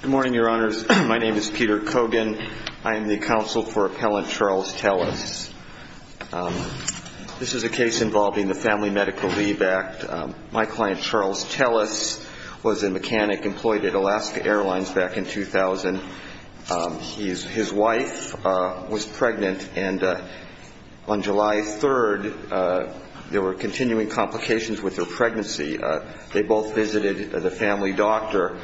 Good morning, your honors. My name is Peter Kogan. I am the counsel for appellant Charles Tellis. This is a case involving the Family Medical Leave Act. My client, Charles Tellis, was a mechanic employed at Alaska Airlines back in 2000. His wife was pregnant, and on July 3rd, there were continuing complications with her pregnancy. They both visited the family doctor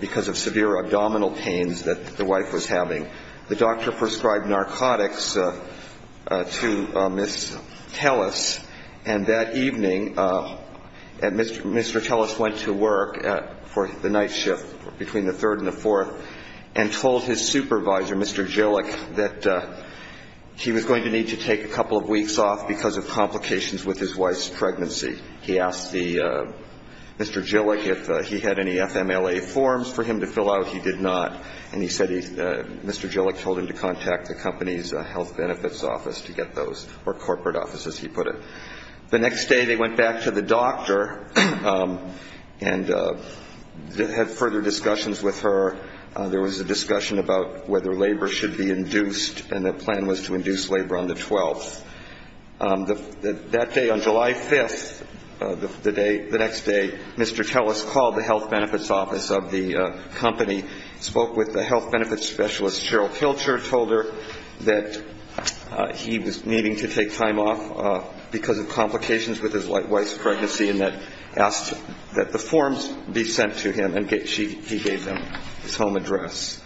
because of severe abdominal pains that the wife was having. The doctor prescribed narcotics to Ms. Tellis, and that evening, Mr. Tellis went to work for the night shift between the 3rd and the 4th and told his supervisor, Mr. Gillick, that he was going to need to take a couple of weeks off because of complications with his wife's pregnancy. He asked Mr. Gillick if he had any FMLA forms for him to fill out. He did not. And he said Mr. Gillick told him to contact the company's health benefits office to get those, or corporate offices, he put it. The next day, they went back to the doctor and had further discussions with her. There was a discussion about whether labor should be induced, and the plan was to induce labor on the 12th. That day, on July 5th, the next day, Mr. Tellis called the health benefits office of the company, spoke with the health benefits specialist, Ms. Cheryl Pilcher, told her that he was needing to take time off because of complications with his wife's pregnancy, and asked that the forms be sent to him, and he gave them his home address.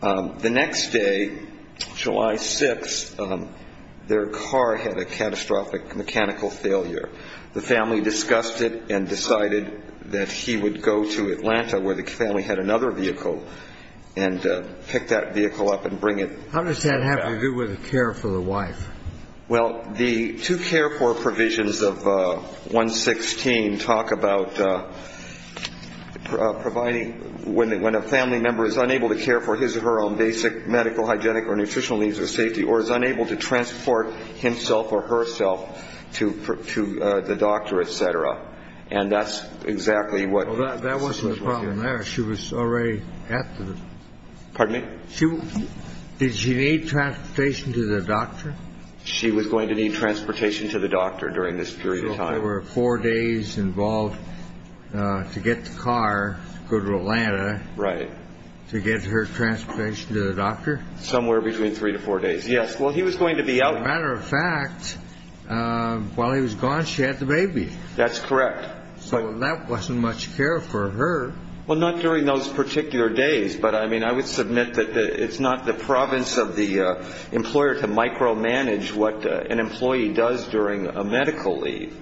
The next day, July 6th, their car had a catastrophic mechanical failure. The family discussed it and decided that he would go to Atlanta, where the family had another vehicle, and pick that vehicle up and bring it back. How does that have to do with care for the wife? Well, the two care for provisions of 116 talk about providing when a family member is unable to care for his or her own basic medical, hygienic or nutritional needs or safety or is unable to transport himself or herself to the doctor, et cetera. And that's exactly what that was. She was already at the party. She did she need transportation to the doctor? She was going to need transportation to the doctor during this period. So there were four days involved to get the car to go to Atlanta to get her transportation to the doctor? Somewhere between three to four days, yes. Well, he was going to be out. As a matter of fact, while he was gone, she had the baby. That's correct. So that wasn't much care for her. Well, not during those particular days. But, I mean, I would submit that it's not the province of the employer to micromanage what an employee does during a medical leave.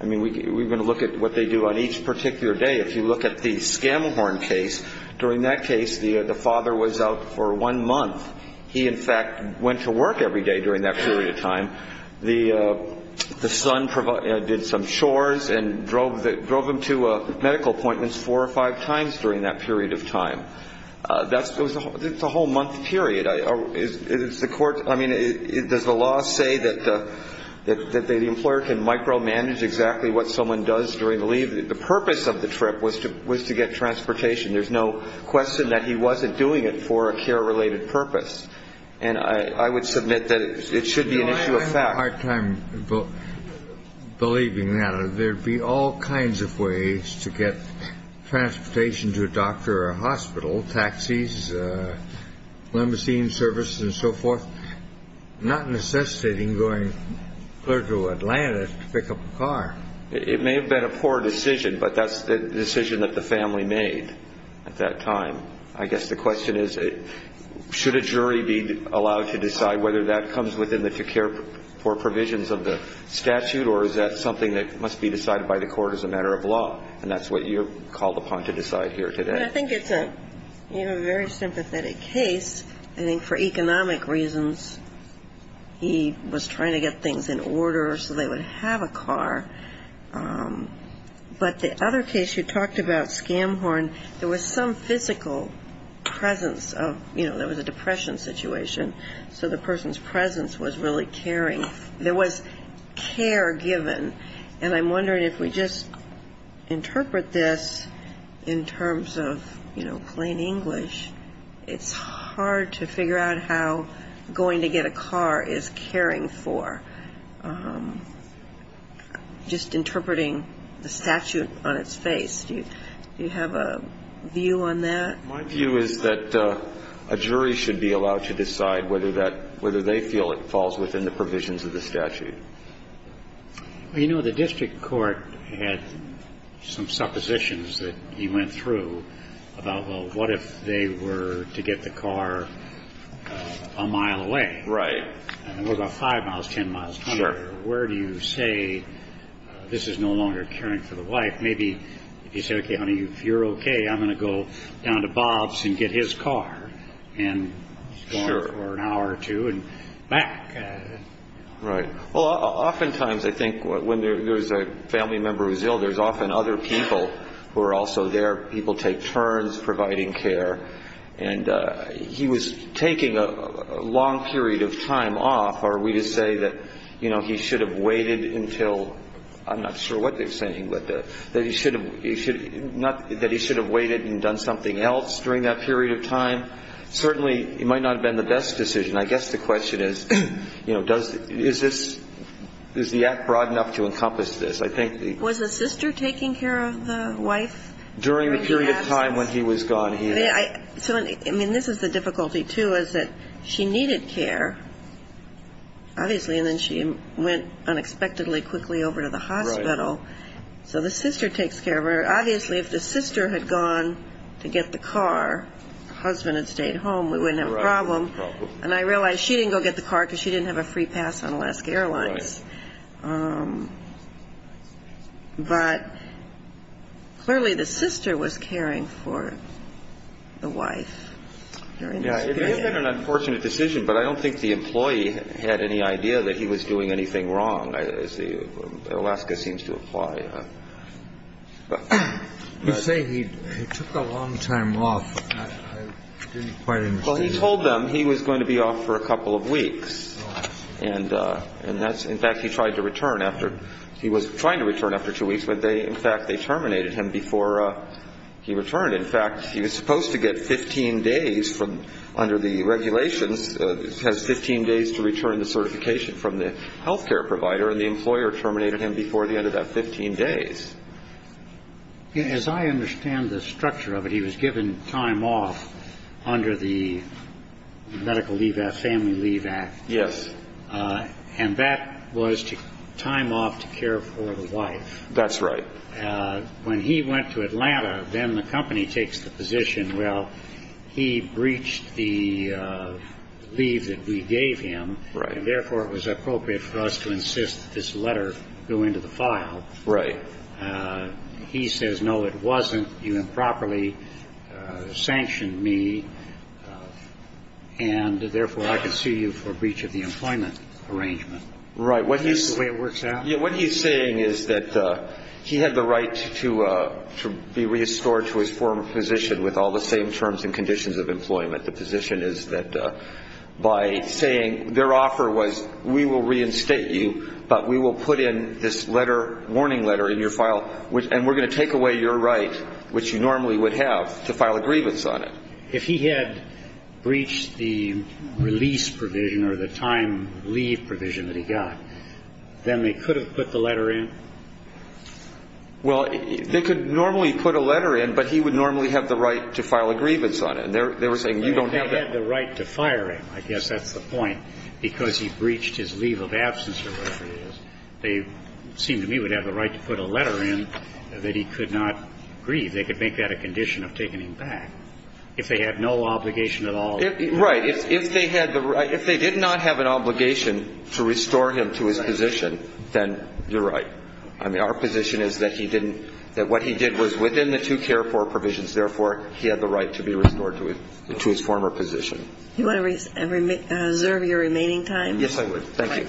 I mean, we're going to look at what they do on each particular day. If you look at the Scamahorn case, during that case, the father was out for one month. He, in fact, went to work every day during that period of time. The son did some chores and drove him to medical appointments four or five times during that period of time. That's a whole month period. I mean, does the law say that the employer can micromanage exactly what someone does during the leave? The purpose of the trip was to get transportation. There's no question that he wasn't doing it for a care-related purpose. And I would submit that it should be an issue of fact. I have a hard time believing that. There would be all kinds of ways to get transportation to a doctor or a hospital, taxis, limousine services and so forth, not necessitating going further to Atlanta to pick up a car. It may have been a poor decision, but that's the decision that the family made at that time. I guess the question is, should a jury be allowed to decide whether that comes within the care for provisions of the statute, or is that something that must be decided by the court as a matter of law? And that's what you're called upon to decide here today. I think it's a very sympathetic case. I think for economic reasons he was trying to get things in order so they would have a car. But the other case you talked about, Scamhorn, there was some physical presence of, you know, there was a depression situation, so the person's presence was really caring. There was care given, and I'm wondering if we just interpret this in terms of, you know, plain English. It's hard to figure out how going to get a car is caring for. Just interpreting the statute on its face, do you have a view on that? My view is that a jury should be allowed to decide whether that, whether they feel it falls within the provisions of the statute. Well, you know, the district court had some suppositions that he went through about, well, what if they were to get the car a mile away? Right. What about 5 miles, 10 miles, 20 miles? Sure. Where do you say this is no longer caring for the wife? Maybe if you say, okay, honey, if you're okay, I'm going to go down to Bob's and get his car. Sure. And he's going for an hour or two and back. Right. Well, oftentimes I think when there's a family member who's ill, there's often other people who are also there. People take turns providing care. And he was taking a long period of time off. Are we to say that, you know, he should have waited until, I'm not sure what they're saying, but that he should have waited and done something else during that period of time? Certainly, it might not have been the best decision. I guess the question is, you know, does, is this, is the act broad enough to encompass this? I think the ---- Was the sister taking care of the wife? During the period of time when he was gone, yes. I mean, this is the difficulty, too, is that she needed care, obviously, and then she went unexpectedly quickly over to the hospital. So the sister takes care of her. Obviously, if the sister had gone to get the car, the husband had stayed home, we wouldn't have a problem. And I realize she didn't go get the car because she didn't have a free pass on Alaska Airlines. Right. But clearly the sister was caring for the wife during this period. Yeah, it may have been an unfortunate decision, but I don't think the employee had any idea that he was doing anything wrong, as Alaska seems to imply. You say he took a long time off. I didn't quite understand. Well, he told them he was going to be off for a couple of weeks. And that's ---- in fact, he tried to return after ---- he was trying to return after two weeks, but they ---- in fact, they terminated him before he returned. In fact, he was supposed to get 15 days from under the regulations, has 15 days to return the certification from the health care provider, and the employer terminated him before the end of that 15 days. As I understand the structure of it, he was given time off under the Medical Leave Act, Family Leave Act. Yes. And that was time off to care for the wife. That's right. When he went to Atlanta, then the company takes the position, well, he breached the leave that we gave him, and therefore it was appropriate for us to insist that this letter go into the file. Right. He says, no, it wasn't. You improperly sanctioned me, and therefore I can sue you for breach of the employment arrangement. Right. That's the way it works out. What he's saying is that he had the right to be restored to his former position with all the same terms and conditions of employment. The position is that by saying their offer was we will reinstate you, but we will put in this letter, warning letter in your file, and we're going to take away your right, which you normally would have, to file a grievance on it. If he had breached the release provision or the time leave provision that he got, then they could have put the letter in? Well, they could normally put a letter in, but he would normally have the right to file a grievance on it. They were saying you don't have that. They had the right to fire him. I guess that's the point, because he breached his leave of absence or whatever it is. They seem to me would have the right to put a letter in that he could not grieve. They could make that a condition of taking him back. If they had no obligation at all. Right. If they had the right, if they did not have an obligation to restore him to his position, then you're right. I mean, our position is that he didn't, that what he did was within the two care for provisions. Therefore, he had the right to be restored to his former position. Do you want to reserve your remaining time? Yes, I would. Thank you.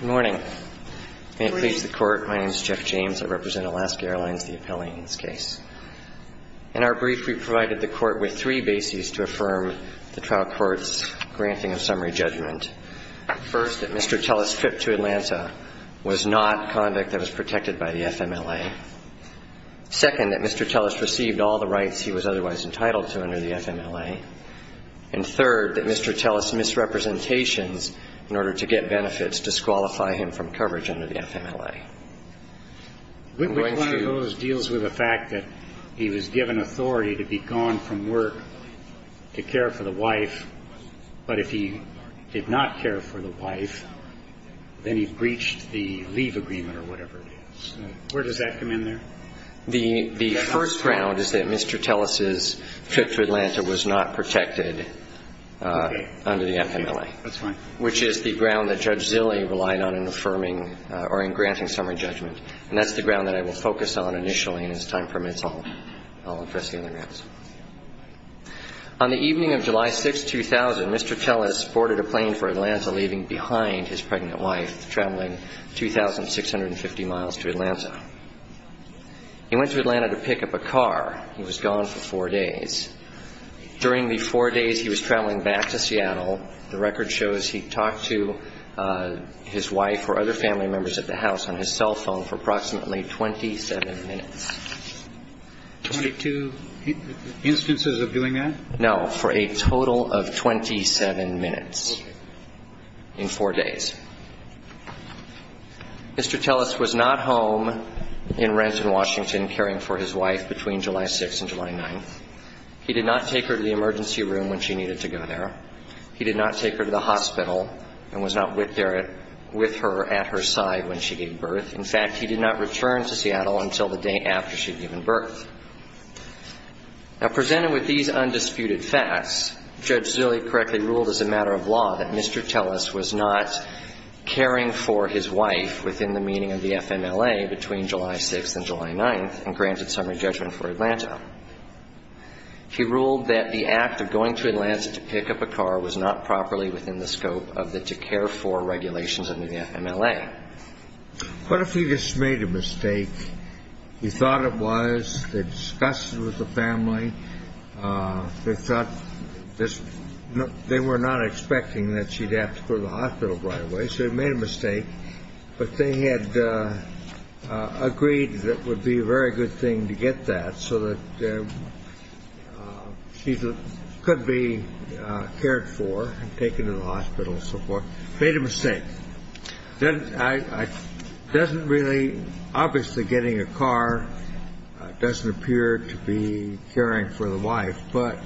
Good morning. May it please the Court. My name is Jeff James. I represent Alaska Airlines, the appellee in this case. In our brief, we provided the Court with three bases to affirm the trial court's granting of summary judgment. First, that Mr. Tellis' trip to Atlanta was not conduct that was protected by the FMLA. Second, that Mr. Tellis' trip to Atlanta was not conducted under the FMLA. And third, that Mr. Tellis' misrepresentations in order to get benefits disqualify him from coverage under the FMLA. Which one of those deals with the fact that he was given authority to be gone from work to care for the wife, but if he did not care for the wife, then he breached the leave agreement or whatever it is. Where does that come in there? The first ground is that Mr. Tellis' trip to Atlanta was not protected under the FMLA. Okay. That's fine. Which is the ground that Judge Zille relied on in affirming or in granting summary judgment. And that's the ground that I will focus on initially. And as time permits, I'll address the other grounds. On the evening of July 6, 2000, Mr. Tellis boarded a plane for Atlanta, leaving behind his pregnant wife, traveling 2,650 miles to Atlanta. He went to Atlanta to pick up a car. He was gone for four days. During the four days he was traveling back to Seattle, the record shows he talked to his wife or other family members at the house on his cell phone for approximately 27 minutes. Twenty-two instances of doing that? No. For a total of 27 minutes. In four days. Mr. Tellis was not home in Renton, Washington, caring for his wife between July 6 and July 9. He did not take her to the emergency room when she needed to go there. He did not take her to the hospital and was not with her at her side when she gave birth. In fact, he did not return to Seattle until the day after she had given birth. Now, presented with these undisputed facts, Judge Zille correctly ruled as a matter of law that Mr. Tellis was not caring for his wife within the meaning of the FMLA between July 6 and July 9 and granted summary judgment for Atlanta. He ruled that the act of going to Atlanta to pick up a car was not properly within the scope of the to-care-for regulations under the FMLA. What if he just made a mistake? He thought it was. They discussed it with the family. They thought this. They were not expecting that she'd have to go to the hospital right away. So he made a mistake. But they had agreed that would be a very good thing to get that so that she could be cared for and taken to the hospital and so forth. Made a mistake. Obviously, getting a car doesn't appear to be caring for the wife. But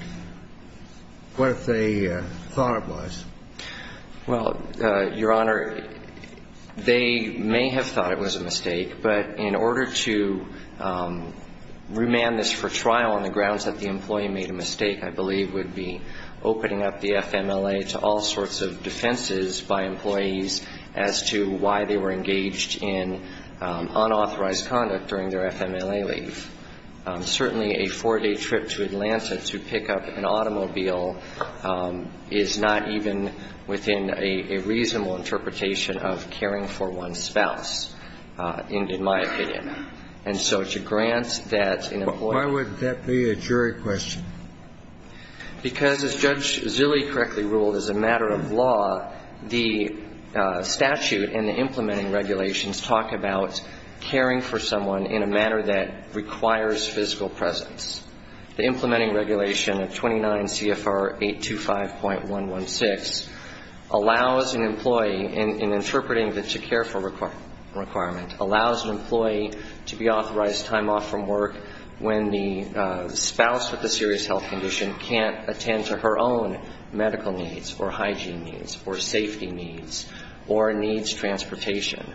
what if they thought it was? Well, Your Honor, they may have thought it was a mistake. But in order to remand this for trial on the grounds that the employee made a mistake, I believe would be opening up the FMLA to all sorts of defenses by employees as to why they were engaged in unauthorized conduct during their FMLA leave. Certainly, a four-day trip to Atlanta to pick up an automobile is not even within a reasonable interpretation of caring for one's spouse, and in my opinion. And so to grant that an employee Why would that be a jury question? Because as Judge Zille correctly ruled, as a matter of law, the statute and the implementing regulations talk about caring for someone in a manner that requires physical presence. The implementing regulation of 29 CFR 825.116 allows an employee in interpreting the to care for requirement, allows an employee to be authorized time off from work when the spouse with a serious health condition can't attend to her own medical needs or hygiene needs or safety needs or needs transportation.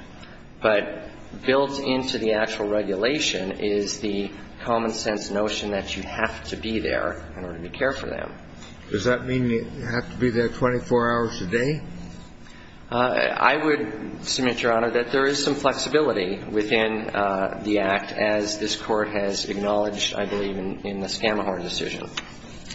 But built into the actual regulation is the common sense notion that you have to be there in order to care for them. Does that mean you have to be there 24 hours a day? I would submit, Your Honor, that there is some flexibility within the Act as this Court has acknowledged, I believe, in the Scamahorn decision.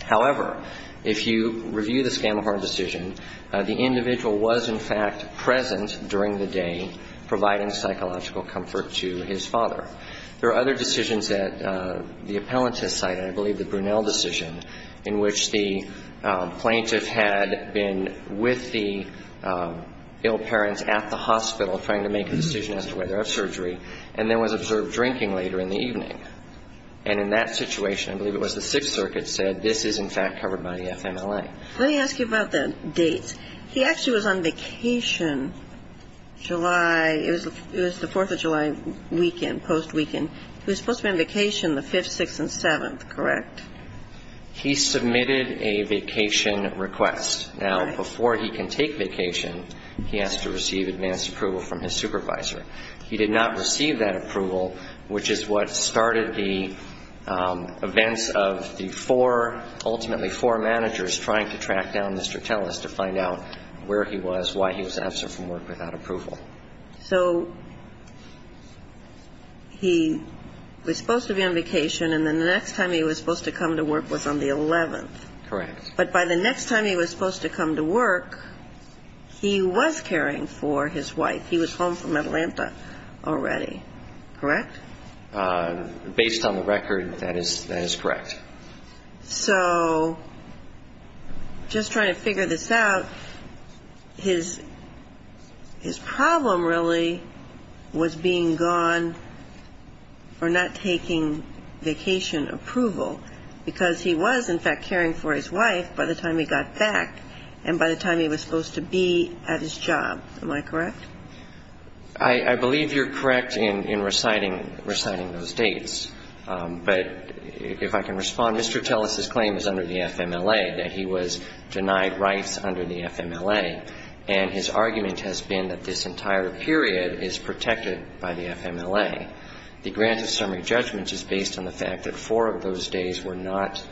However, if you review the Scamahorn decision, the individual was in fact present during the day providing psychological comfort to his father. There are other decisions that the appellant has cited, I believe the Brunel decision, in which the plaintiff had been with the ill parents at the hospital trying to make a decision as to whether to have surgery, and there was observed drinking later in the evening. And in that situation, I believe it was the Sixth Circuit said this is in fact covered by the FMLA. Let me ask you about the dates. He actually was on vacation July, it was the Fourth of July weekend, post-weekend. He was supposed to be on vacation the 5th, 6th and 7th, correct? He submitted a vacation request. Now, before he can take vacation, he has to receive advance approval from his supervisor. He did not receive that approval, which is what started the events of the four, ultimately four managers trying to track down Mr. Tellis to find out where he was, why he was absent from work without approval. So he was supposed to be on vacation, and the next time he was supposed to come to work was on the 11th. Correct. But by the next time he was supposed to come to work, he was caring for his wife. He was home from Atlanta already, correct? Based on the record, that is correct. So just trying to figure this out, his problem really was being gone or not taking vacation approval, because he was in fact caring for his wife by the time he got back and by the time he was supposed to be at his job. Am I correct? I believe you're correct in reciting those dates. But if I can respond, Mr. Tellis's claim is under the FMLA, that he was denied rights under the FMLA, and his argument has been that this entire period is protected by the FMLA. The grant of summary judgment is based on the fact that four of those days were not,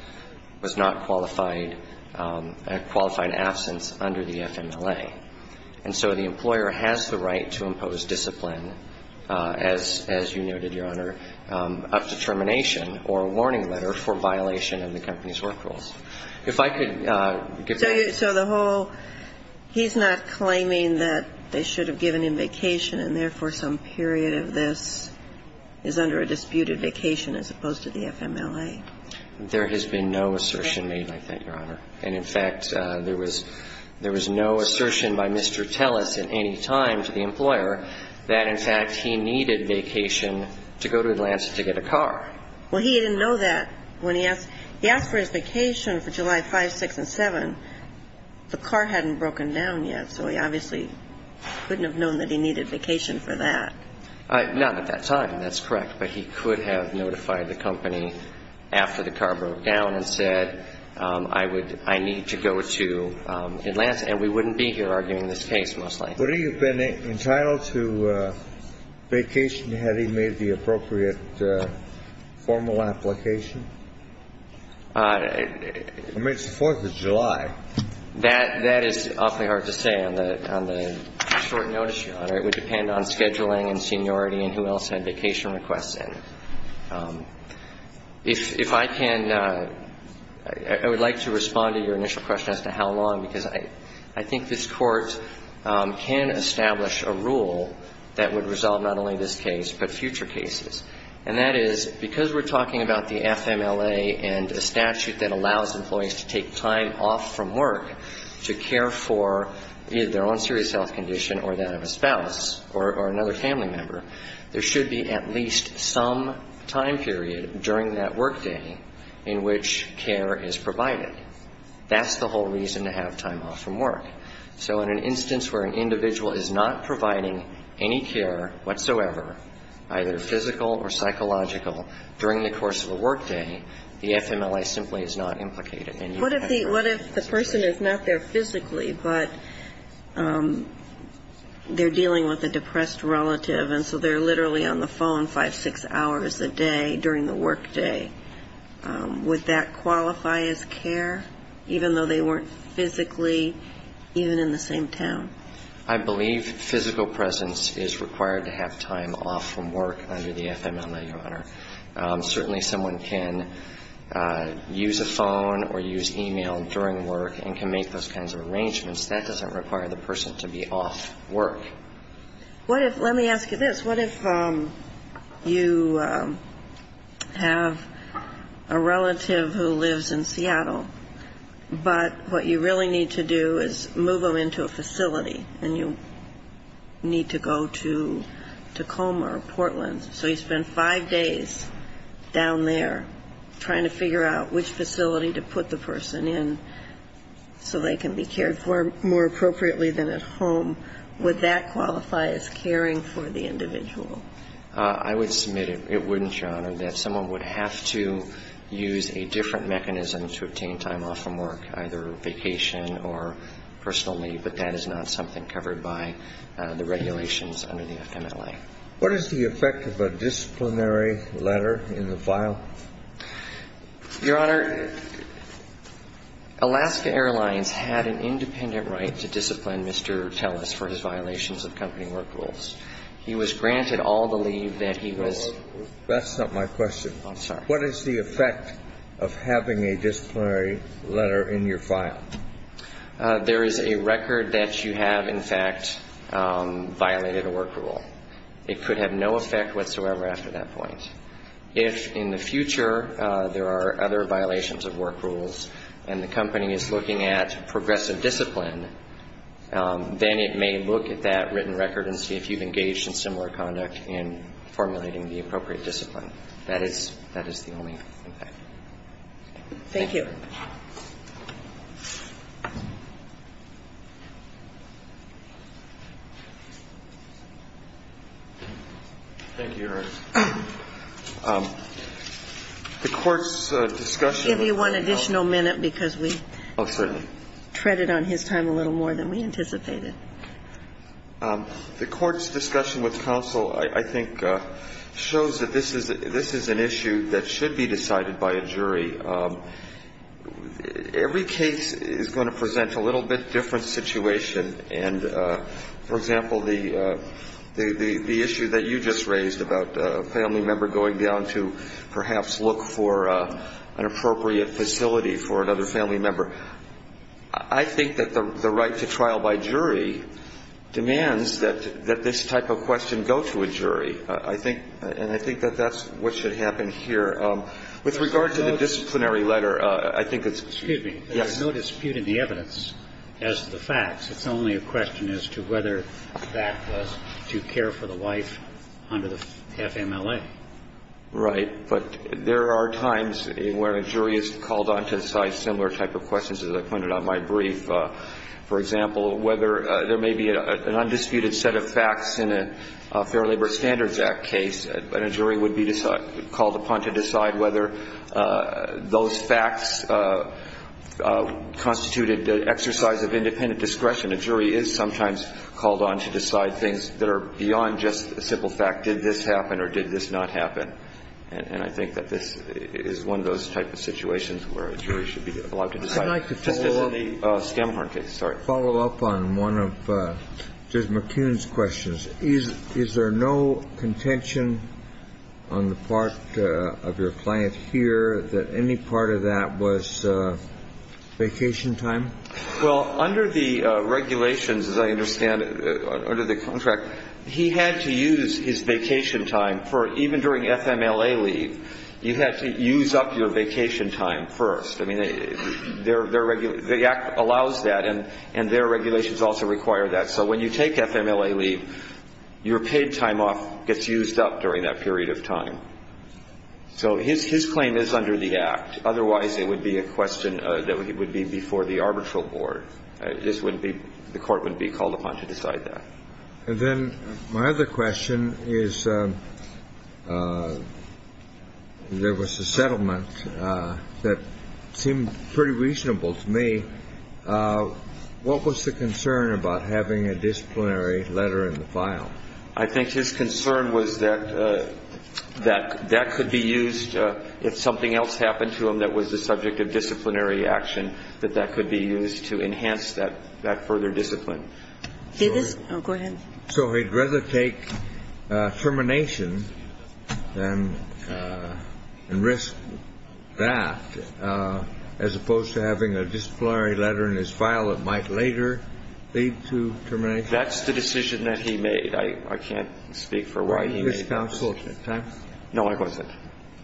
was not qualified, a qualified absence under the FMLA. And so the employer has the right to impose discipline, as you noted, Your Honor, a determination or a warning letter for violation of the company's work rules. If I could give that. So the whole, he's not claiming that they should have given him vacation, and therefore some period of this is under a disputed vacation as opposed to the FMLA. There has been no assertion made like that, Your Honor. And in fact, there was no assertion by Mr. Tellis at any time to the employer that in fact he needed vacation to go to Atlanta to get a car. Well, he didn't know that when he asked. He asked for his vacation for July 5th, 6th, and 7th. The car hadn't broken down yet, so he obviously couldn't have known that he needed vacation for that. Not at that time. That's correct. But he could have notified the company after the car broke down and said, I would, I need to go to Atlanta. And we wouldn't be here arguing this case, mostly. Would he have been entitled to vacation had he made the appropriate formal application? I mean, it's the 4th of July. That is awfully hard to say on the short notice, Your Honor. It would depend on scheduling and seniority and who else had vacation requests in. If I can, I would like to respond to your initial question as to how long, because I think this Court can establish a rule that would resolve not only this case, but future cases. And that is because we're talking about the FMLA and a statute that allows employees to take time off from work to care for either their own serious health condition or that of a spouse or another family member, there should be at least some time period during that work day in which care is provided. That's the whole reason to have time off from work. So in an instance where an individual is not providing any care whatsoever, either physical or psychological, during the course of a work day, the FMLA simply is not implicated. What if the person is not there physically, but they're dealing with a depressed relative and so they're literally on the phone five, six hours a day during the work day? Would that qualify as care, even though they weren't physically even in the same town? I believe physical presence is required to have time off from work under the FMLA, Your Honor. Certainly someone can use a phone or use e-mail during work and can make those kinds of arrangements. That doesn't require the person to be off work. What if, let me ask you this, what if you have a relative who lives in Seattle, but what you really need to do is move them into a facility and you need to go to Tacoma or Portland, so you spend five days down there trying to figure out which facility to put the person in so they can be cared for more appropriately than at home, would that qualify as caring for the individual? I would submit it wouldn't, Your Honor, that someone would have to use a different mechanism to obtain time off from work, either vacation or personal leave, but that is not something covered by the regulations under the FMLA. What is the effect of a disciplinary letter in the file? Your Honor, Alaska Airlines had an independent right to discipline Mr. Tellis for his violations of company work rules. He was granted all the leave that he was. That's not my question. I'm sorry. What is the effect of having a disciplinary letter in your file? There is a record that you have, in fact, violated a work rule. It could have no effect whatsoever after that point. If in the future there are other violations of work rules and the company is looking at progressive discipline, then it may look at that written record and see if you've engaged in similar conduct in formulating the appropriate discipline. That is the only impact. Thank you. Thank you, Your Honor. The Court's discussion of counsel. I'll give you one additional minute because we treaded on his time a little more than we anticipated. The Court's discussion with counsel, I think, shows that this is an issue that should be decided by a jury. Every case is going to present a little bit different situation. And, for example, the issue that you just raised about a family member going down to perhaps look for an appropriate facility for another family member, I think that the right to trial by jury demands that this type of question go to a jury. And I think that that's what should happen here. With regard to the disciplinary letter, I think it's – Excuse me. Yes. There's no dispute in the evidence as to the facts. It's only a question as to whether that was to care for the wife under the FMLA. Right. But there are times where a jury is called on to decide similar type of questions, as I pointed out in my brief. For example, whether there may be an undisputed set of facts in a Fair Labor Standards Act case, a jury would be called upon to decide whether those facts constituted an exercise of independent discretion. A jury is sometimes called on to decide things that are beyond just a simple fact. Did this happen or did this not happen? And I think that this is one of those type of situations where a jury should be allowed to decide. I'd like to follow up. Just as in the Skamhorn case. Sorry. I'd like to follow up on one of Judge McCune's questions. Is there no contention on the part of your client here that any part of that was vacation time? Well, under the regulations, as I understand it, under the contract, he had to use his vacation time for even during FMLA leave. You had to use up your vacation time first. I mean, the Act allows that, and their regulations also require that. So when you take FMLA leave, your paid time off gets used up during that period of time. So his claim is under the Act. Otherwise, it would be a question that would be before the arbitral board. This would be the court would be called upon to decide that. And then my other question is there was a settlement that seemed pretty reasonable to me. What was the concern about having a disciplinary letter in the file? I think his concern was that that could be used if something else happened to him that was the subject of disciplinary action, that that could be used to enhance that further discipline. Did this go ahead? So he'd rather take termination and risk that as opposed to having a disciplinary letter in his file that might later lead to termination. That's the decision that he made. I can't speak for why he was counseled. No, I wasn't.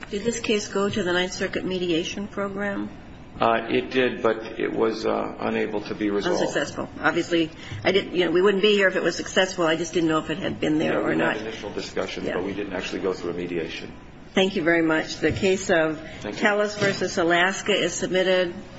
Did this case go to the Ninth Circuit mediation program? It did, but it was unable to be resolved. We wouldn't be here if it was successful. I just didn't know if it had been there or not. We had initial discussions, but we didn't actually go through a mediation. Thank you very much. The case of Tellus v. Alaska is submitted.